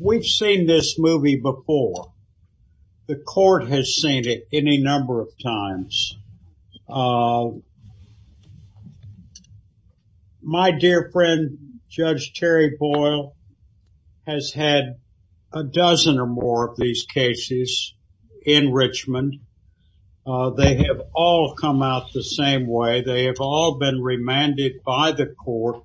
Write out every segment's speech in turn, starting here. We've seen this movie before. The court has seen it any number of times. My dear friend Judge Terry Boyle has had a dozen or more of these cases in Richmond. They have all come out the same way. They have all been remanded by the court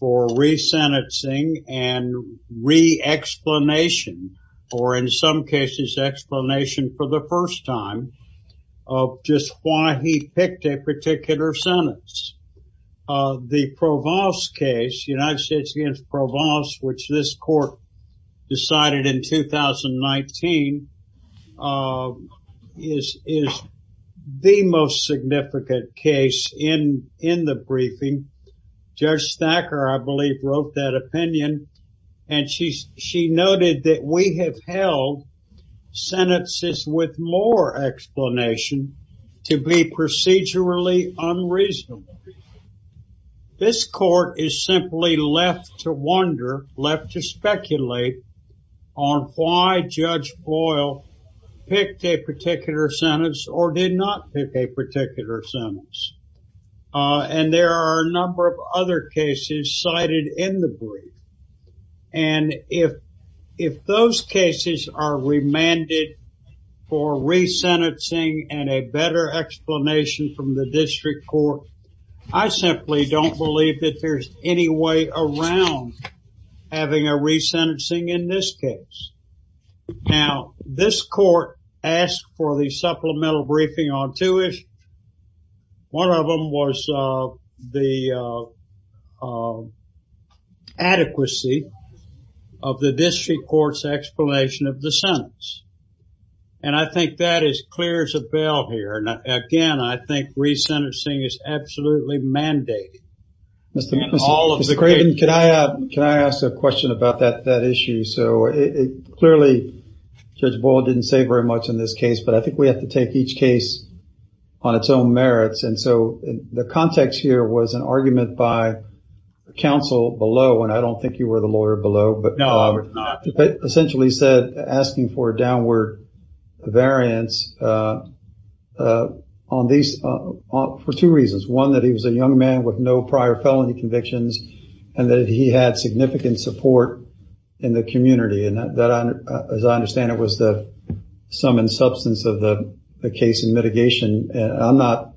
for re-sentencing and re-explanation or in some cases explanation for the first time of just why he picked a particular sentence. The Provence case, United States against Provence, which this court decided in 2019, is the most significant case in the briefing. Judge Thacker, I believe, wrote that opinion and she noted that we have held sentences with more explanation to be procedurally unreasonable. This court is simply left to wonder, left to speculate on why Judge Boyle picked a particular sentence or did not pick a particular sentence. And there are a number of other cases cited in the brief. And if those cases are remanded for re-sentencing and a better explanation from the court, I simply don't believe that there's any way around having a re-sentencing in this case. Now, this court asked for the supplemental briefing on two issues. One of them was the adequacy of the district court's explanation of the sentence. And I think that is clear as again, I think re-sentencing is absolutely mandated. Mr. Craven, can I ask a question about that issue? So, clearly, Judge Boyle didn't say very much in this case, but I think we have to take each case on its own merits. And so, the context here was an argument by counsel below, and I don't think you were the lawyer below, but essentially said, asking for a downward variance on these for two reasons. One, that he was a young man with no prior felony convictions, and that he had significant support in the community. And that, as I understand it, was the sum and substance of the case and mitigation. I'm not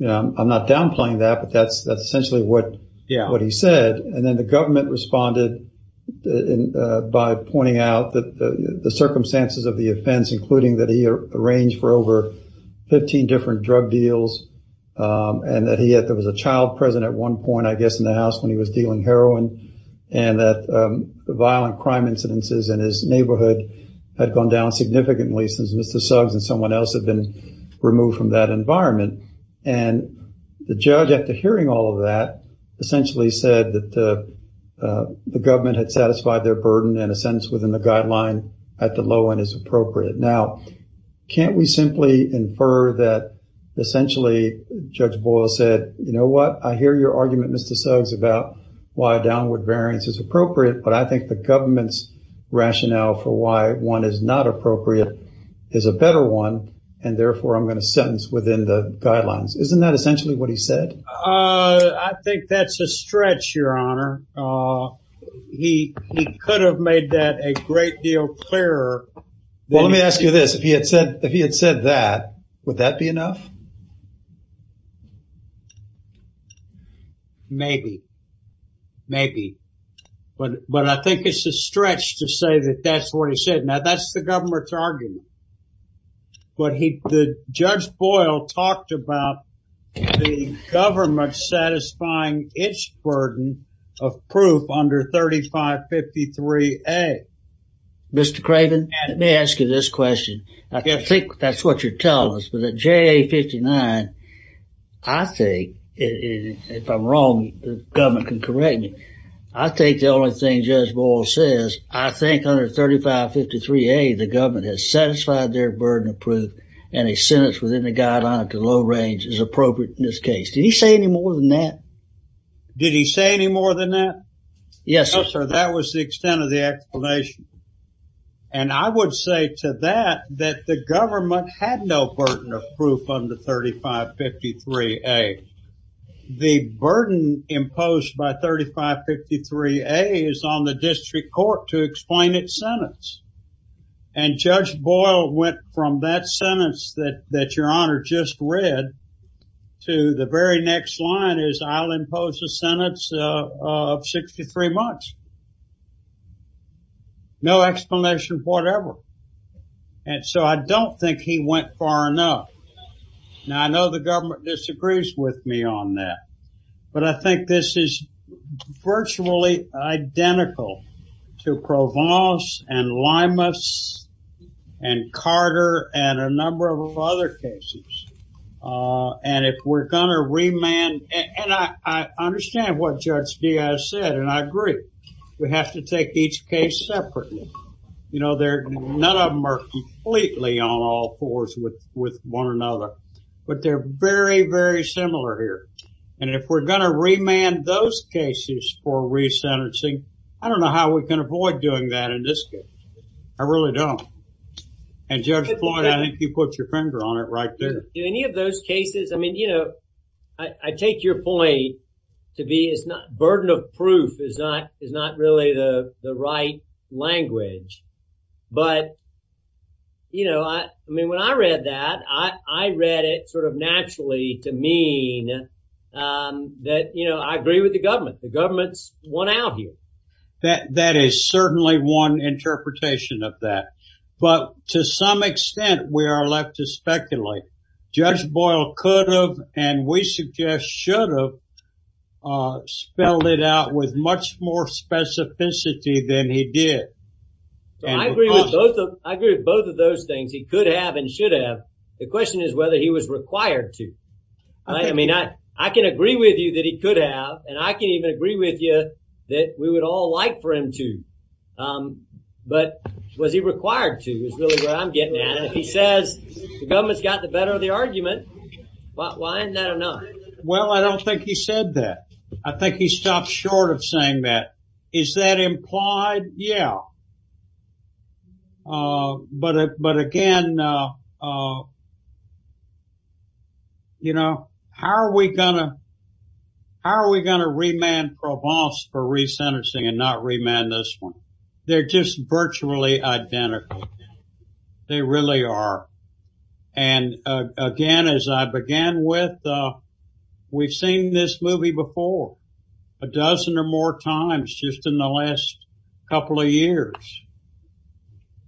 downplaying that, but that's essentially what he said. And then the government responded by pointing out that the circumstances of the offense, including that he arranged for over 15 different drug deals, and that he had, there was a child present at one point, I guess, in the house when he was dealing heroin, and that the violent crime incidences in his neighborhood had gone down significantly since Mr. Suggs and someone else had been removed from that environment. And the judge, after hearing all of that, essentially said that the government had satisfied their burden and a sentence within the guideline at the low end is appropriate. Now, can't we simply infer that essentially Judge Boyle said, you know what, I hear your argument, Mr. Suggs, about why downward variance is appropriate, but I think the government's rationale for why one is not appropriate is a better one, and therefore I'm going to sentence within the guidelines. Isn't that essentially what he said? I think that's a stretch, your honor. He could have made that a great deal clearer. Well, let me ask you this. If he had said that, would that be enough? Maybe. Maybe. But I think it's a stretch to say that that's what he said. Now, that's the government's argument, but Judge Boyle talked about the government satisfying its burden of proof under 3553A. Mr. Craven, let me ask you this question. I think that's what you're telling us, but the JA59, I think, if I'm wrong, the government can correct me, I think the only thing Judge Boyle says, I think under 3553A the government has satisfied their burden of proof, and a sentence within the guideline to low range is appropriate in this case. Did he say any more than that? Did he say any more than that? Yes, sir. That was the extent of the explanation, and I would say to that that the government had no burden of proof under 3553A. The burden imposed by 3553A is on the district court to explain its sentence, and Judge Boyle went from that sentence that your honor just read to the very next line is I'll impose a sentence of 63 months. No explanation for whatever, and so I don't think he went far enough. Now, I know the government disagrees with me on that, but I think this is virtually identical to Provence, and Limas, and Carter, and a number of other cases, and if we're going to remand, and I understand what Judge Diaz said, and I agree, we have to take each case separately. You know, none of them are completely on all fours with one another, but they're very, very similar here, and if we're going to remand those cases for resentencing, I don't know how we can avoid doing that in this case. I really don't, and Judge Boyle, I think you put your finger on it right there. In any of those cases, I mean, you know, I take your point to be it's not proof is not really the right language, but, you know, I mean, when I read that, I read it sort of naturally to mean that, you know, I agree with the government. The government's won out here. That is certainly one interpretation of that, but to some extent, we are left to speculate. Judge Boyle could have, and we suggest should have spelled it out with much more specificity than he did. I agree with both of those things. He could have and should have. The question is whether he was required to. I mean, I can agree with you that he could have, and I can even agree with you that we would all like for him to, but was he required to is really where I'm getting at. If he says the government's got the better of the argument, why isn't that enough? Well, I don't think he said that. I think he stopped short of saying that. Is that implied? Yeah, but again, you know, how are we gonna remand Provence for re-sentencing and not remand this one? They're just virtually identical. They really are, and again, as I began with, we've seen this movie before a dozen or more times just in the last couple of years,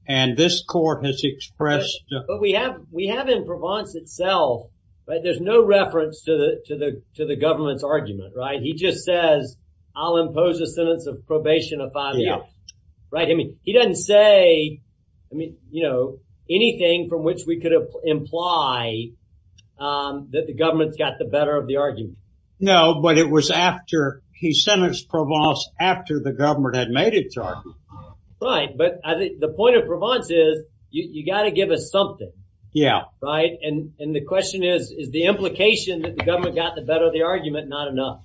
and this court has expressed... But we have in Provence itself, right, there's no reference to the government's argument, right? He just says I'll impose a sentence of probation of five years. Right, I mean, he doesn't say, I mean, you know, anything from which we could imply that the government's got the better of the argument. No, but it was after he sentenced Provence after the government had made its argument. Right, but I think the point of Provence is you got to give us something. Yeah. Right, and the question is, is the implication that the government got the better of the argument not enough?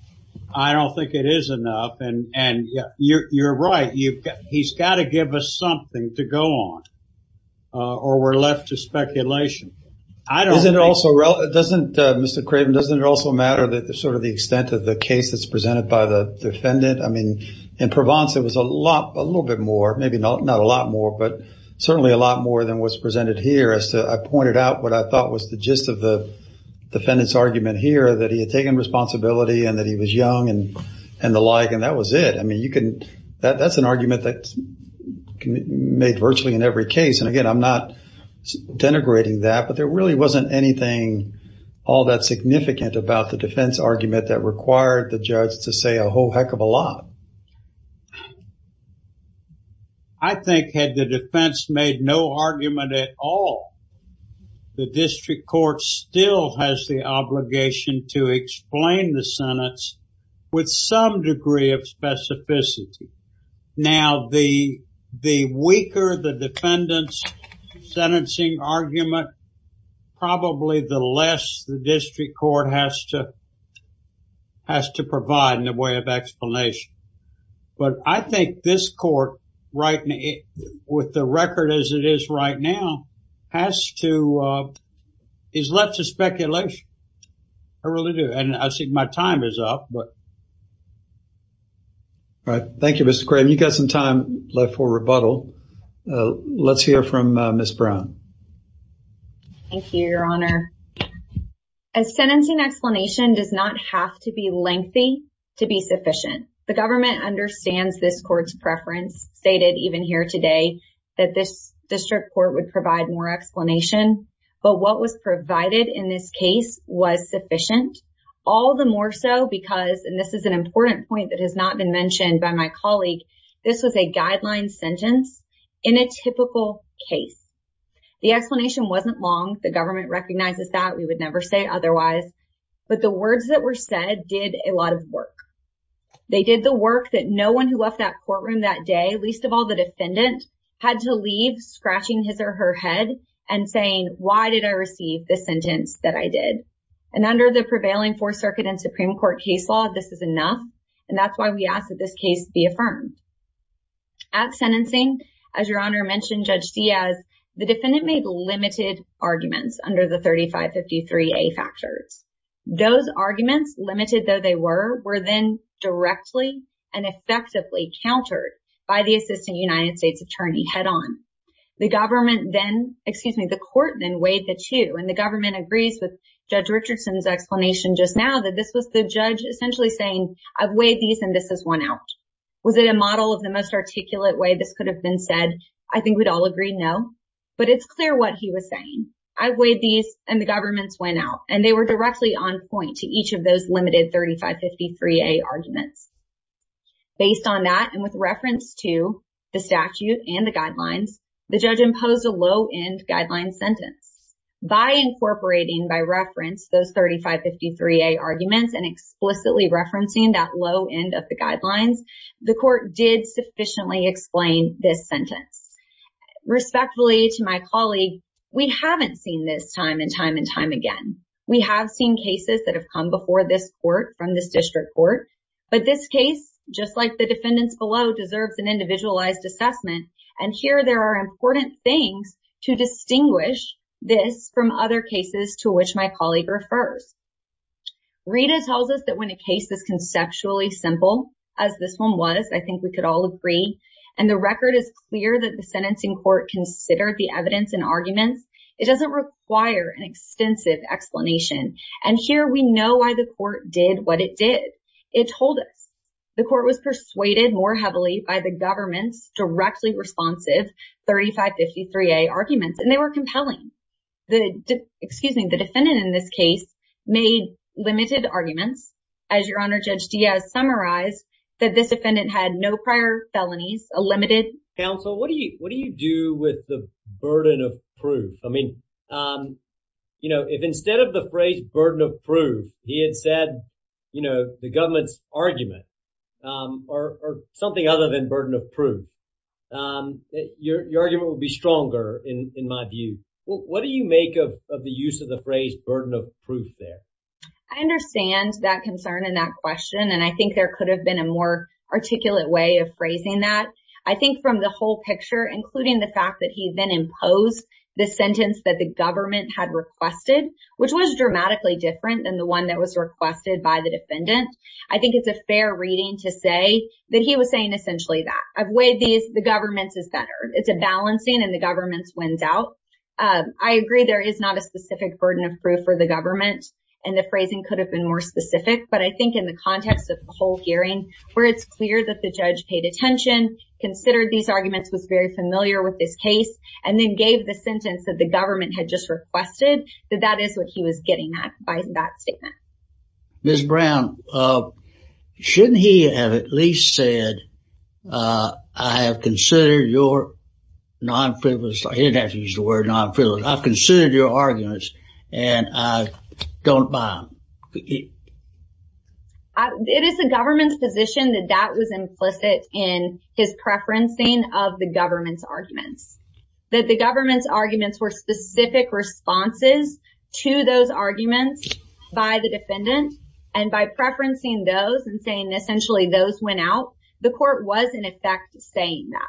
I don't think it is enough, and you're right, he's got to give us something to go on, or we're left to speculation. I don't think... Mr. Craven, doesn't it also matter that sort of the extent of the case that's presented by the defendant? I mean, in Provence, it was a lot, a little bit more, maybe not a lot more, but certainly a lot more than what's presented here as to... I pointed out what I thought was the gist of the defendant's argument here, that he had taken responsibility and that he was young and the like, and that was it. I mean, that's an argument that's made virtually in every case, and again, I'm not denigrating that, but there really wasn't anything all that significant about the defense argument that required the judge to say a whole heck of a lot. I think had the defense made no argument at all, the district court still has the obligation to explain the sentence with some degree of specificity. Now, the weaker the defendant's sentencing argument, probably the less the district court has to provide in the way of explanation, but I think this court, with the record as it is right now, is left to speculation. I really do, and I think my time is up, but... All right. Thank you, Mr. Craven. You've got some time left for rebuttal. Let's hear from Ms. Brown. Thank you, Your Honor. A sentencing explanation does not have to be lengthy to be sufficient. The government understands this court's preference, stated even here today, that this district court would provide more explanation, but what was provided in this case was sufficient, all the more so because, and this is an important point that has not been mentioned by my colleague, this was a guideline sentence in a typical case. The explanation wasn't long. The government recognizes that. We would never say otherwise, but the words that were said did a lot of work. They did the work that no one who left that courtroom that day, least of all the defendant, had to leave scratching his or her head and saying, why did I receive this sentence that I did? And under the prevailing Fourth Circuit and Supreme Court case law, this is enough, and that's why we ask that this case be affirmed. At sentencing, as Your Honor mentioned, Judge Diaz, the defendant made limited arguments under the 3553A factors. Those arguments, limited though they were, were then directly and effectively countered by the assistant United States attorney head on. The government then, excuse me, the court then weighed the two, and the government agrees with Judge Richardson's explanation just now that this was the judge essentially saying, I've weighed these and this is one out. Was it a model of the most articulate way this could have been said? I think we'd all agree no, but it's clear what he was saying. I weighed these and the government's went out and they were directly on point to each of those limited 3553A arguments. Based on that and with reference to the statute and the guidelines, the judge imposed a low-end guideline sentence. By incorporating, by reference, those 3553A arguments and explicitly referencing that low end of the guidelines, the court did sufficiently explain this sentence. Respectfully to my colleague, we haven't seen this time and time and time again. We have seen cases that have come before this court from this district court, but this case, just like the defendants below, deserves an individualized assessment. And here there are important things to distinguish this from other cases to which my colleague refers. Rita tells us that when a case is conceptually simple, as this one was, I think we could all agree, and the record is clear that the sentencing court considered the evidence and arguments, it doesn't require an extensive explanation. And here we know why the court did what it did. It told us the court was persuaded more heavily by the government's directly responsive 3553A arguments and they were compelling. The defendant in this case made limited arguments. As your honor, Judge Diaz summarized that this defendant had no prior felonies, a limited. Counsel, what do you do with the burden of proof? I mean, you know, if instead of the phrase burden of proof, he had said, you know, the government's argument or something other than burden of proof, your argument would be stronger in my view. What do you make of the use of the phrase burden of question? And I think there could have been a more articulate way of phrasing that. I think from the whole picture, including the fact that he then imposed the sentence that the government had requested, which was dramatically different than the one that was requested by the defendant. I think it's a fair reading to say that he was saying essentially that I've weighed these, the government's is better. It's a balancing and the government's wins out. I agree there is not a specific burden of proof for the government and the phrasing could have been more specific. But I think in the context of the whole hearing where it's clear that the judge paid attention, considered these arguments, was very familiar with this case, and then gave the sentence that the government had just requested, that that is what he was getting at by that statement. Ms. Brown, shouldn't he have at least said, I have considered your non-frivolous, I didn't have to use the word non-frivolous, I've considered your arguments and I don't buy them. It is the government's position that that was implicit in his preferencing of the government's arguments. That the government's arguments were specific responses to those arguments by the defendant and by preferencing those and saying essentially those went out, the court was in effect saying that.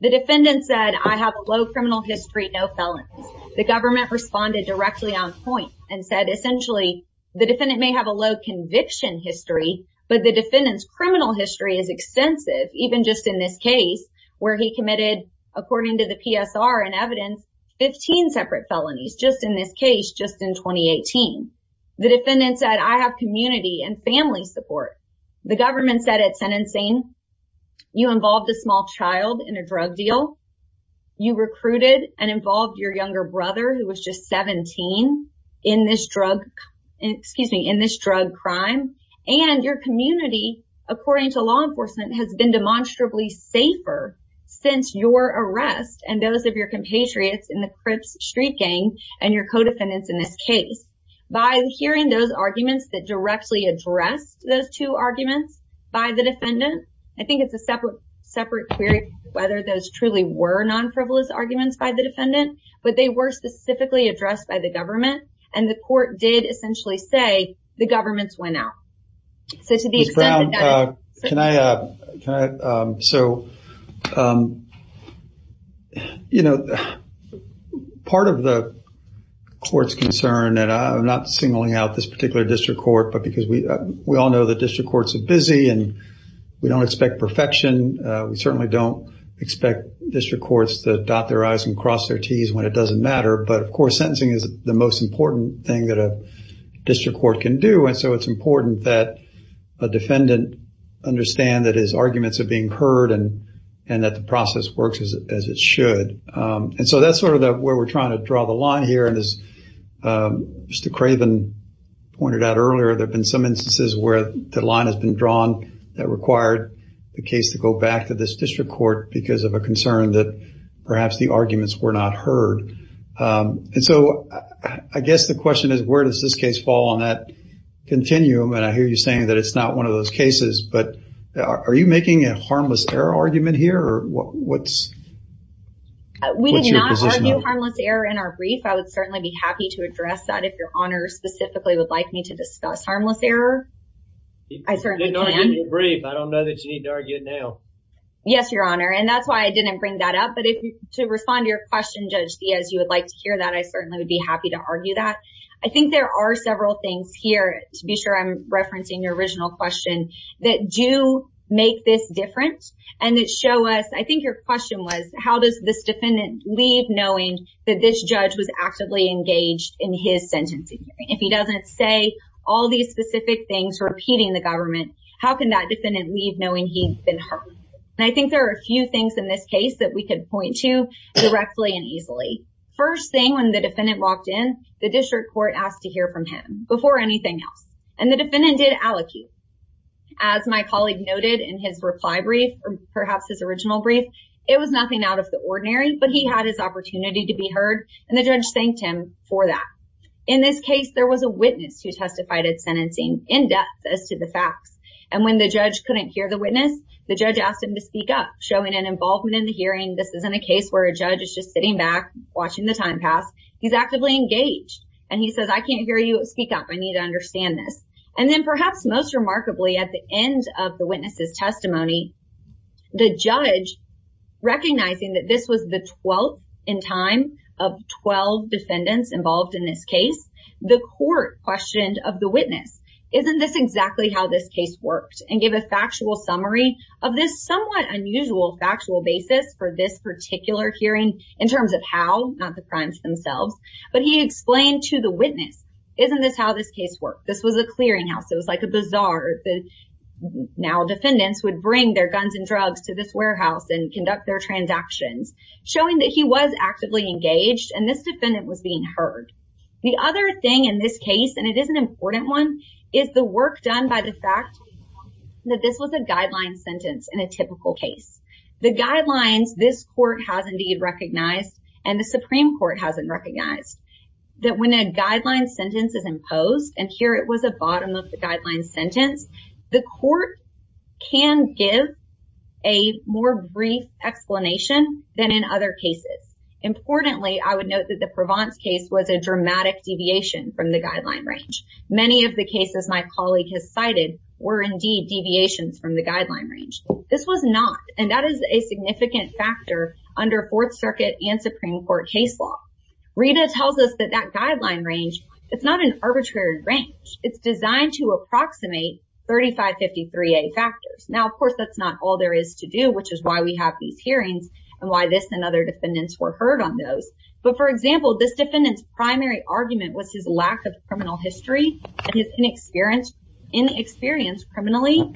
The defendant said, I have a low criminal history, no felons. The government responded directly on point and said essentially the defendant may have low conviction history, but the defendant's criminal history is extensive, even just in this case where he committed, according to the PSR and evidence, 15 separate felonies just in this case, just in 2018. The defendant said, I have community and family support. The government said at sentencing, you involved a small child in a drug deal. You recruited and involved your younger brother who was just 17 in this drug, excuse me, in this drug crime and your community, according to law enforcement, has been demonstrably safer since your arrest and those of your compatriots in the Crips street gang and your co-defendants in this case. By hearing those arguments that directly addressed those two arguments by the defendant, I think it's a separate separate query whether those truly were non-frivolous arguments by the defendant, but they were specifically addressed by the government. And the court did essentially say the government's went out. So to the extent that- Ms. Brown, can I, so, you know, part of the court's concern that I'm not singling out this particular district court, but because we, we all know that district courts are busy and we don't expect perfection. We certainly don't expect district courts to dot their T's when it doesn't matter. But of course, sentencing is the most important thing that a district court can do. And so it's important that a defendant understand that his arguments are being heard and, and that the process works as it should. And so that's sort of where we're trying to draw the line here. And as Mr. Craven pointed out earlier, there've been some instances where the line has been drawn that required the case to go back to this district court because of a concern that perhaps the arguments were not heard. And so I guess the question is, where does this case fall on that continuum? And I hear you saying that it's not one of those cases, but are you making a harmless error argument here? Or what's your position on that? We did not argue harmless error in our brief. I would certainly be happy to address that if your honor specifically would like me to discuss harmless error. I certainly can. You didn't argue it in your brief. I don't know that you need to argue it now. Yes, your honor. And that's why I didn't bring that up. But to respond to your question, Judge Diaz, you would like to hear that. I certainly would be happy to argue that. I think there are several things here, to be sure I'm referencing your original question, that do make this different and that show us, I think your question was, how does this defendant leave knowing that this judge was actively engaged in his sentencing? If he doesn't say all these specific things, repeating the government, how can that defendant leave knowing he's been harmed? And I think there are a few things in this case that we could point to directly and easily. First thing, when the defendant walked in, the district court asked to hear from him before anything else. And the defendant did allocate. As my colleague noted in his reply brief, or perhaps his original brief, it was nothing out of the ordinary, but he had his opportunity to be heard. And the judge thanked him for that. In this case, there was a witness who testified at sentencing in depth as to the facts. And when the judge couldn't hear the witness, the judge asked him to speak up, showing an involvement in the hearing. This isn't a case where a judge is just sitting back, watching the time pass. He's actively engaged. And he says, I can't hear you speak up. I need to understand this. And then perhaps most remarkably, at the end of the witness's testimony, the judge, recognizing that this was the 12th in time of 12 defendants involved in this case, the court questioned of the witness, isn't this exactly how this case worked? And give a factual summary of this somewhat unusual factual basis for this particular hearing in terms of how, not the crimes themselves. But he explained to the witness, isn't this how this case worked? This was a clearinghouse. It was like a bazaar. Now defendants would bring their guns and drugs to this warehouse and conduct their transactions, showing that he was actively engaged and this defendant was being heard. The other thing in this case, and it is an important one, is the work done by the fact that this was a guideline sentence in a typical case. The guidelines this court has indeed recognized and the Supreme Court hasn't recognized that when a guideline sentence is imposed, and here it was a bottom of the guideline sentence, the court can give a more brief explanation than in other cases. Importantly, I would note that the Provence case was a dramatic deviation from the guideline range. Many of the cases my colleague has cited were indeed deviations from the guideline range. This was not, and that is a significant factor under Fourth Circuit and Supreme Court case law. Rita tells us that that guideline range, it's not an arbitrary range. It's designed to approximate 3553A factors. Now, of course, that's not all there is to do, which is why we have these hearings and why this and other defendants were heard on those. But for example, this defendant's primary argument was his lack of criminal history and his inexperience criminally.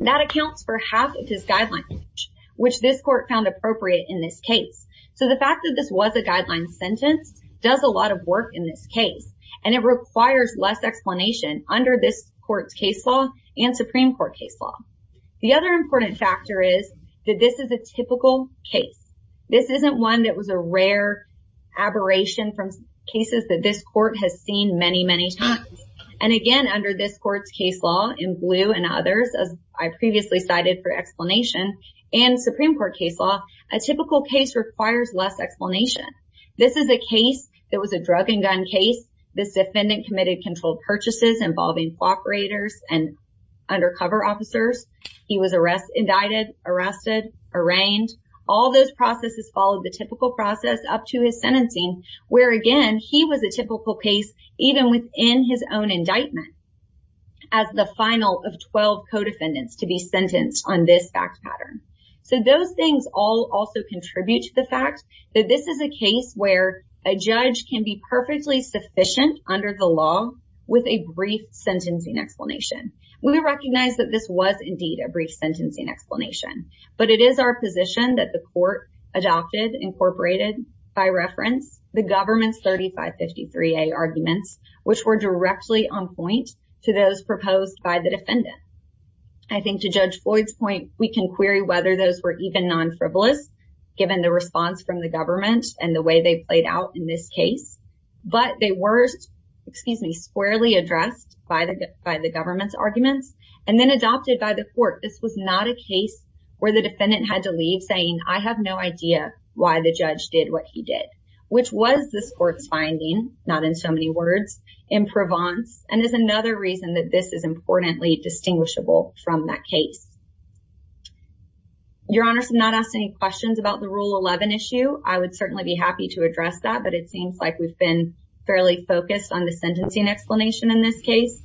That accounts for half of his guideline range, which this court found appropriate in this case. So the fact that this was a guideline sentence does a lot of work in this case, and it requires less explanation under this court's case law and Supreme Court case law. The other important factor is that this is a typical case. This isn't one that was a rare aberration from cases that this court has seen many, many times. And again, under this court's case law in blue and others, as I previously cited for explanation and Supreme Court case law, a typical case requires less explanation. This is a case that was a drug and undercover officers. He was arrested, indicted, arrested, arraigned. All those processes followed the typical process up to his sentencing, where again, he was a typical case even within his own indictment as the final of 12 co-defendants to be sentenced on this fact pattern. So those things all also contribute to the fact that this is a case where a judge can be perfectly sufficient under the law with a brief sentencing explanation. We recognize that this was indeed a brief sentencing explanation, but it is our position that the court adopted, incorporated by reference, the government's 3553A arguments, which were directly on point to those proposed by the defendant. I think to Judge Floyd's point, we can query whether those were even non-frivolous given the response from the government and the way they played out in this case, but they were, excuse me, squarely addressed by the government's arguments and then adopted by the court. This was not a case where the defendant had to leave saying, I have no idea why the judge did what he did, which was this court's finding, not in so many words, in Provence and is another reason that this is importantly distinguishable from that case. Your Honor has not asked any questions about the Rule 11 issue. I would certainly be happy to have been fairly focused on the sentencing explanation in this case.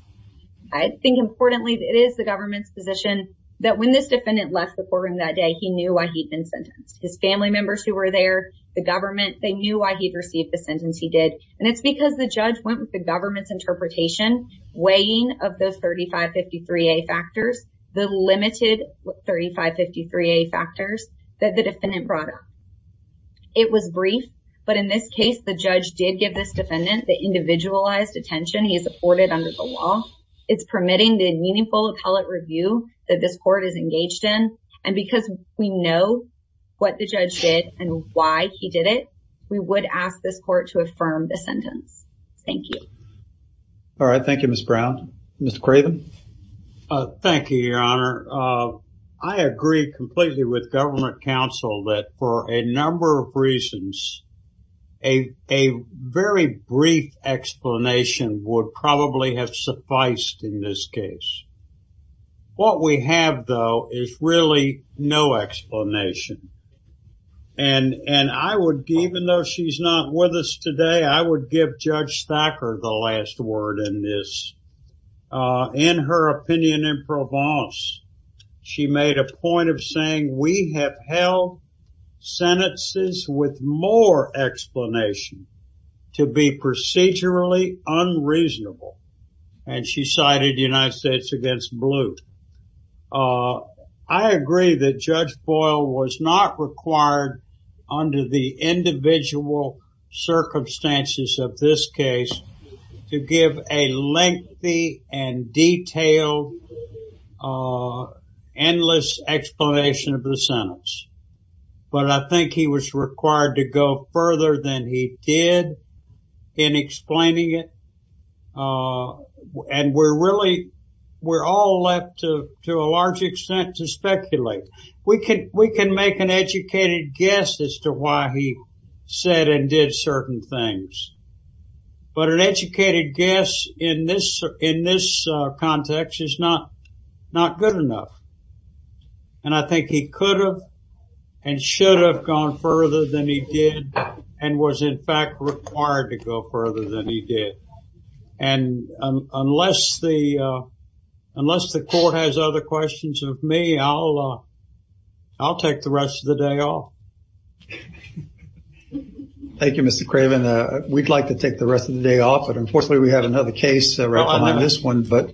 I think importantly, it is the government's position that when this defendant left the courtroom that day, he knew why he'd been sentenced. His family members who were there, the government, they knew why he'd received the sentence he did, and it's because the judge went with the government's interpretation, weighing of those 3553A factors, the limited 3553A factors that the defendant brought up. It was brief, but in this case, the judge did give this defendant the individualized attention he has afforded under the law. It's permitting the meaningful appellate review that this court is engaged in, and because we know what the judge did and why he did it, we would ask this court to affirm the sentence. Thank you. All right. Thank you, Ms. Brown. Mr. Craven. Thank you, Your Honor. I agree completely with government counsel that for a number of reasons, a very brief explanation would probably have sufficed in this case. What we have, though, is really no explanation, and I would, even though she's not with us today, I would give Judge Thacker the last word in this. In her opinion in Provence, she made a point of saying, we have held sentences with more explanation to be procedurally unreasonable, and she cited the United States against Blue. I agree that Judge Boyle was not required under the individual circumstances of this case to give a lengthy and detailed, endless explanation of the sentence, but I think he was required to go further than he did in explaining it, and we're all left, to a large extent, to speculate. We can make an educated guess as to why he said and did certain things, but an educated guess in this context is not good enough, and I think he could have and should have gone further than he did and was, in fact, required to go further than he did, and unless the court has other questions of me, I'll take the rest of the day off. Thank you, Mr. Craven. We'd like to take the rest of the day off, but unfortunately, we have another case right behind this one, but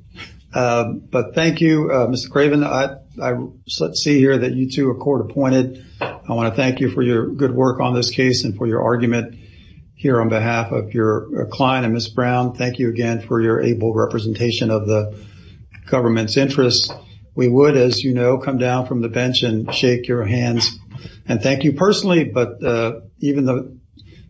thank you, Mr. Craven. Let's see here that you two are court appointed. I want to thank you for your good work on this case and for your argument here on behalf of your client, and Ms. Brown, thank you again for your able representation of the government's interests. We would, as you know, come down from the bench and shake your hands and thank you personally, but even the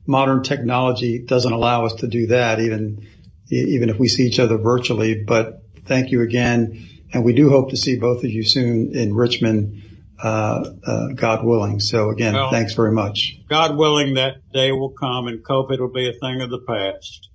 modern technology doesn't allow us to do that, even if we see each other virtually, but thank you again, and we do hope to see both of you soon in Richmond, God willing, so again, thanks very much. God willing, that day will come, and, Cope, it'll be a thing of the past.